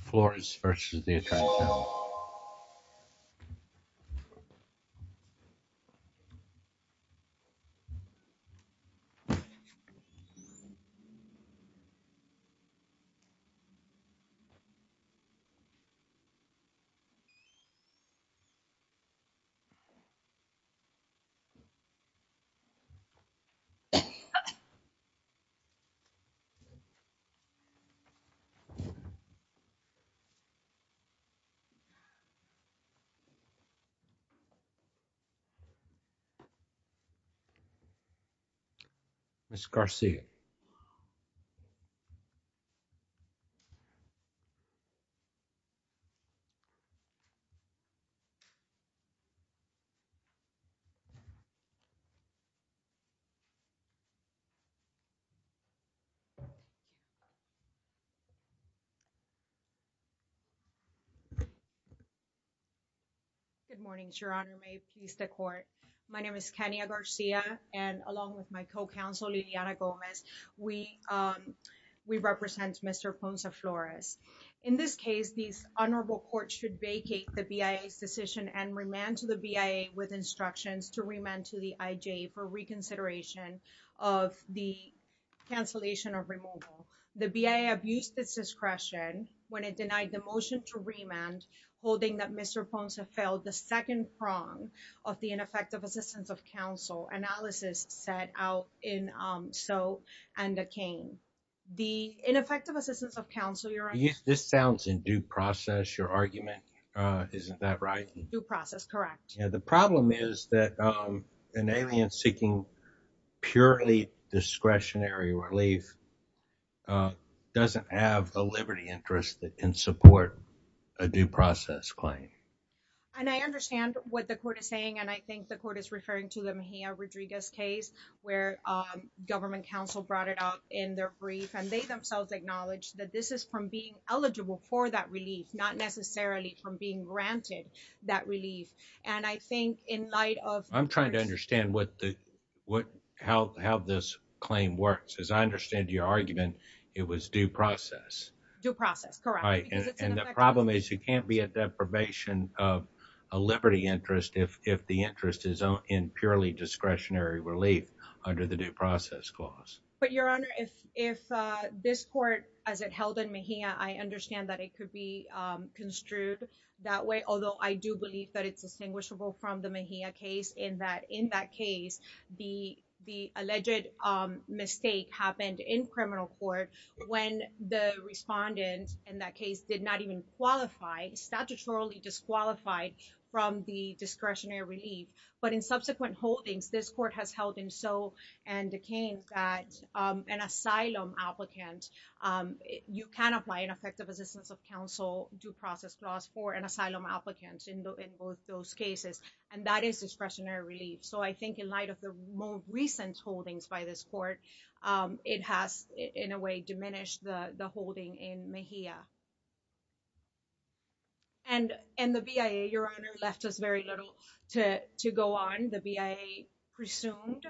Flores v. U.S. Attorney General Good morning, Your Honor. May peace the court. My name is Kania Garcia, and along with my co-counsel, Lidiana Gomez, we represent Mr. Fonza Flores. In this case, this honorable court should vacate the BIA's decision and remand to the BIA with instructions to remand to the IJ for reconsideration of the cancellation of removal. The BIA abused this discretion when it denied the motion to remand, holding that Mr. Fonza failed the second prong of the ineffective assistance of counsel analysis set out in So and the King. The ineffective assistance of counsel, Your Honor. This sounds in due process, your argument. Isn't that right? Due process, correct. Yeah, the problem is that an alien seeking purely discretionary relief doesn't have the liberty interest that can support a due process claim. And I understand what the court is saying, and I think the court is referring to the Mejia Rodriguez case where government counsel brought it up in their brief, and they themselves acknowledge that this is from being eligible for that relief, not necessarily from being granted that relief. And I think in light of I'm trying to understand what the what how how this claim works, as I understand your argument, it was due process due process, correct? And the problem is you can't be at deprivation of a liberty interest if if the interest is in purely discretionary relief under the due process clause. But Your Honor, if if this court as it held in Mejia, I understand that it could be construed that way, although I do believe that it's distinguishable from the Mejia case in that in that case, the the alleged mistake happened in criminal court when the respondent in that case did not even qualify, statutorily disqualified from the discretionary relief. But in subsequent holdings, this court has held in so and decaying that an asylum applicant, you can apply an effective assistance of counsel due process clause for an asylum applicants in both those cases, and that is discretionary relief. So I think in light of the most recent holdings by this court, it has in a way diminished the holding in Mejia. And and the BIA, Your Honor, left us very little to to go on the BIA presumed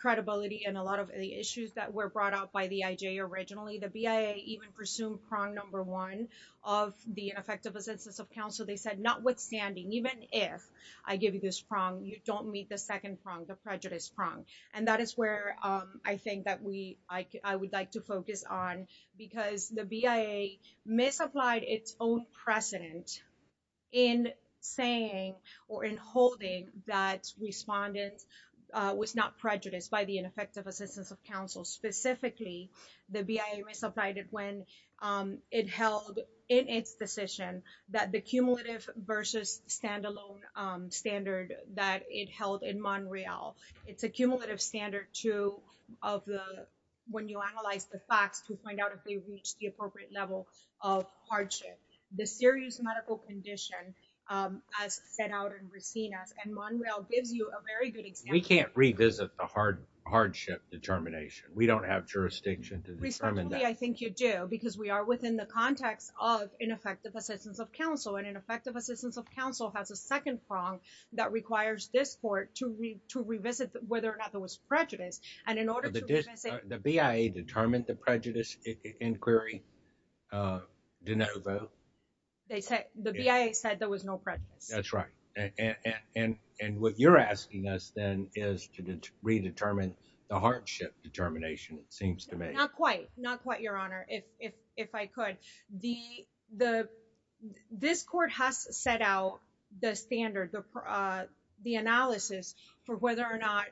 credibility and a the BIA even presumed prong number one of the effective assistance of counsel. They said notwithstanding, even if I give you this prong, you don't meet the second prong, the prejudice prong. And that is where I think that we I would like to focus on because the BIA misapplied its own precedent in saying or in holding that respondents was not the BIA misapplied it when it held in its decision that the cumulative versus standalone standard that it held in Monreal. It's a cumulative standard to of the when you analyze the facts to find out if they reach the appropriate level of hardship. The serious medical condition as set out in Resinas and Monreal gives you a very good example. We can't revisit the hard hardship determination. We don't have jurisdiction to determine that. I think you do, because we are within the context of ineffective assistance of counsel and in effective assistance of counsel has a second prong that requires this court to read to revisit whether or not there was prejudice. And in order to say the BIA determined the prejudice inquiry. They said the BIA said there was no prejudice. That's right. And what you're asking us then is to redetermine the hardship determination, it seems to me. Not quite. Not quite, Your Honor. If I could. This court has set out the standard, the analysis for whether or not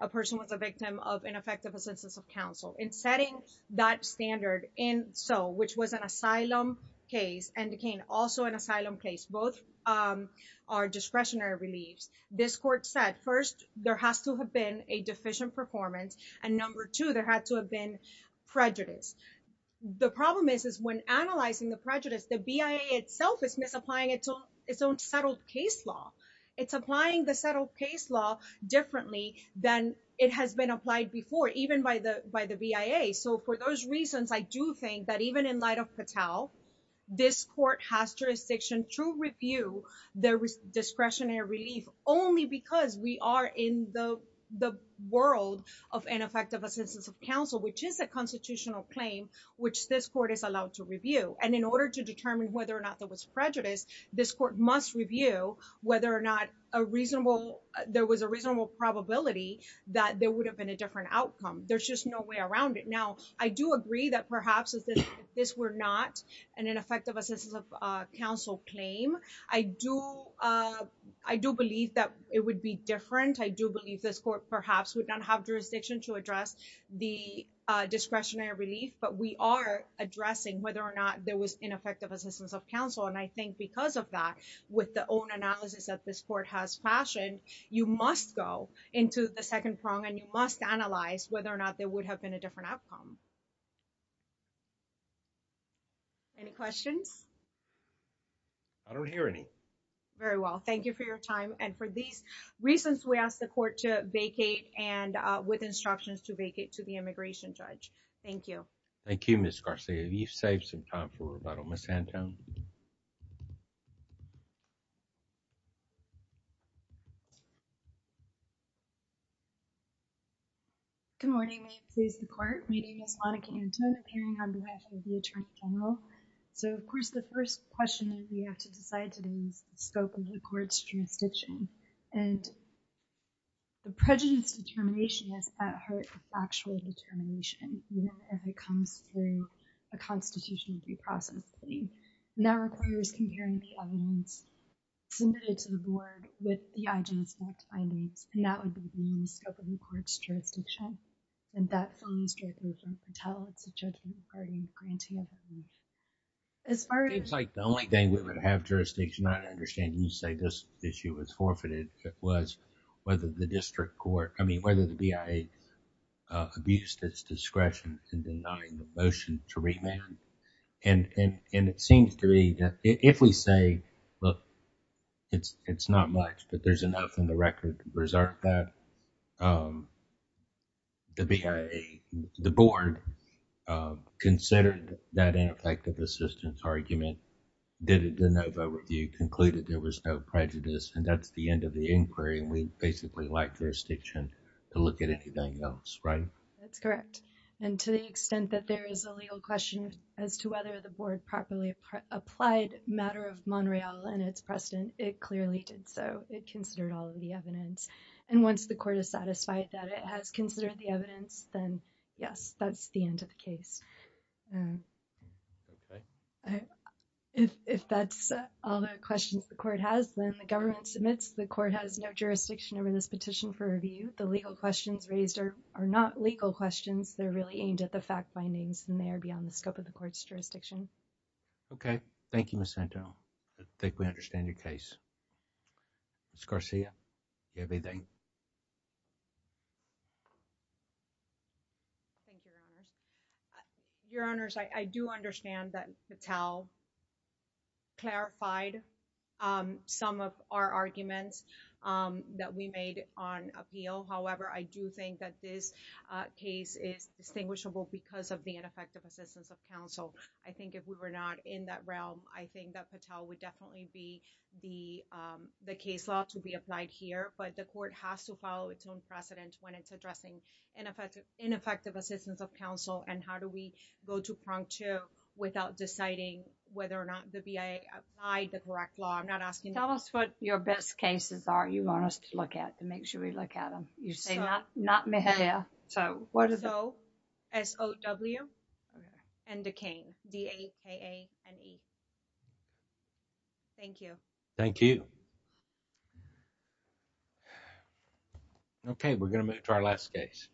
a person was a victim of ineffective assistance of counsel. In setting that standard in so which was an asylum case and again, also an asylum case, both are discretionary reliefs. This court said first, there has to have been a deficient performance. And number two, there had to have been prejudice. The problem is, is when analyzing the prejudice, the BIA itself is misapplying its own settled case law. It's applying the settled case law differently than it has been applied before, even by the by the BIA. So for those reasons, I do think that even in light of Patel, this court has jurisdiction to review their discretionary relief only because we are in the world of ineffective assistance of counsel, which is a constitutional claim, which this court is allowed to review. And in order to determine whether or not there was prejudice, this court must review whether or not a reasonable there was a reasonable probability that there would have been a different outcome. There's just no way around it. Now, I do agree that perhaps this were not an ineffective assistance of counsel claim. I do. I do believe that it would be different. I do believe this court perhaps would not have jurisdiction to address the discretionary relief, but we are addressing whether or not there was ineffective assistance of counsel. And I think because of that, with the own analysis that this court has fashioned, you must go into the second prong and you must analyze whether or not there would have been a different outcome. Any questions? I don't hear any. Very well. Thank you for your time. And for these reasons, we asked the court to vacate and with instructions to vacate to the immigration judge. Thank you. Thank you, Miss Garcia. You've saved some time for a little miss Anton. Good morning, my name is Monica Anton appearing on behalf of the Attorney General. So of course, the first question that we have to decide today is the scope of the court's jurisdiction. And the prejudice determination is at heart factual determination, even if it comes through a narrow court is comparing the evidence submitted to the board with the IG's findings. And that would be the scope of the court's jurisdiction. And that phone is directly tell it's a judgment party granting. It's like the only thing we would have jurisdiction. I understand you say this issue was forfeited. It was whether the district court, I mean, whether the BIA abused its discretion in denying the motion to remand. And it seems to me that if we say, look, it's not much, but there's enough in the record to preserve that. The BIA, the board considered that ineffective assistance argument, did a de novo review, concluded there was no prejudice. And that's the end of the inquiry. And we basically like to look at anything else, right? That's correct. And to the extent that there is a legal question as to whether the board properly applied matter of Montreal and its precedent, it clearly did. So it considered all of the evidence. And once the court is satisfied that it has considered the evidence, then yes, that's the end of the case. If that's all the questions the court has, the government submits, the court has no jurisdiction over this petition for review. The legal questions raised are not legal questions. They're really aimed at the fact findings and they are beyond the scope of the court's jurisdiction. Okay. Thank you, Ms. Santo. I think we understand your case. Ms. Garcia. Everything. Your honors, I do understand that Patel clarified some of our arguments that we made on appeal. However, I do think that this case is distinguishable because of the ineffective assistance of counsel. I think if we were not in that realm, I think that Patel would definitely be the case law to be applied here. But the court has to follow its own precedent when it's addressing ineffective assistance of counsel. And how do we go to prong to without deciding whether or not the BIA applied the correct law? I'm not asking. Tell us what your best cases are. You want us to look at to make sure we look at them. You say not, not me. Yeah. So what is though? S O W and decaying and E. Thank you. Thank you. Okay. We're going to move to our last case.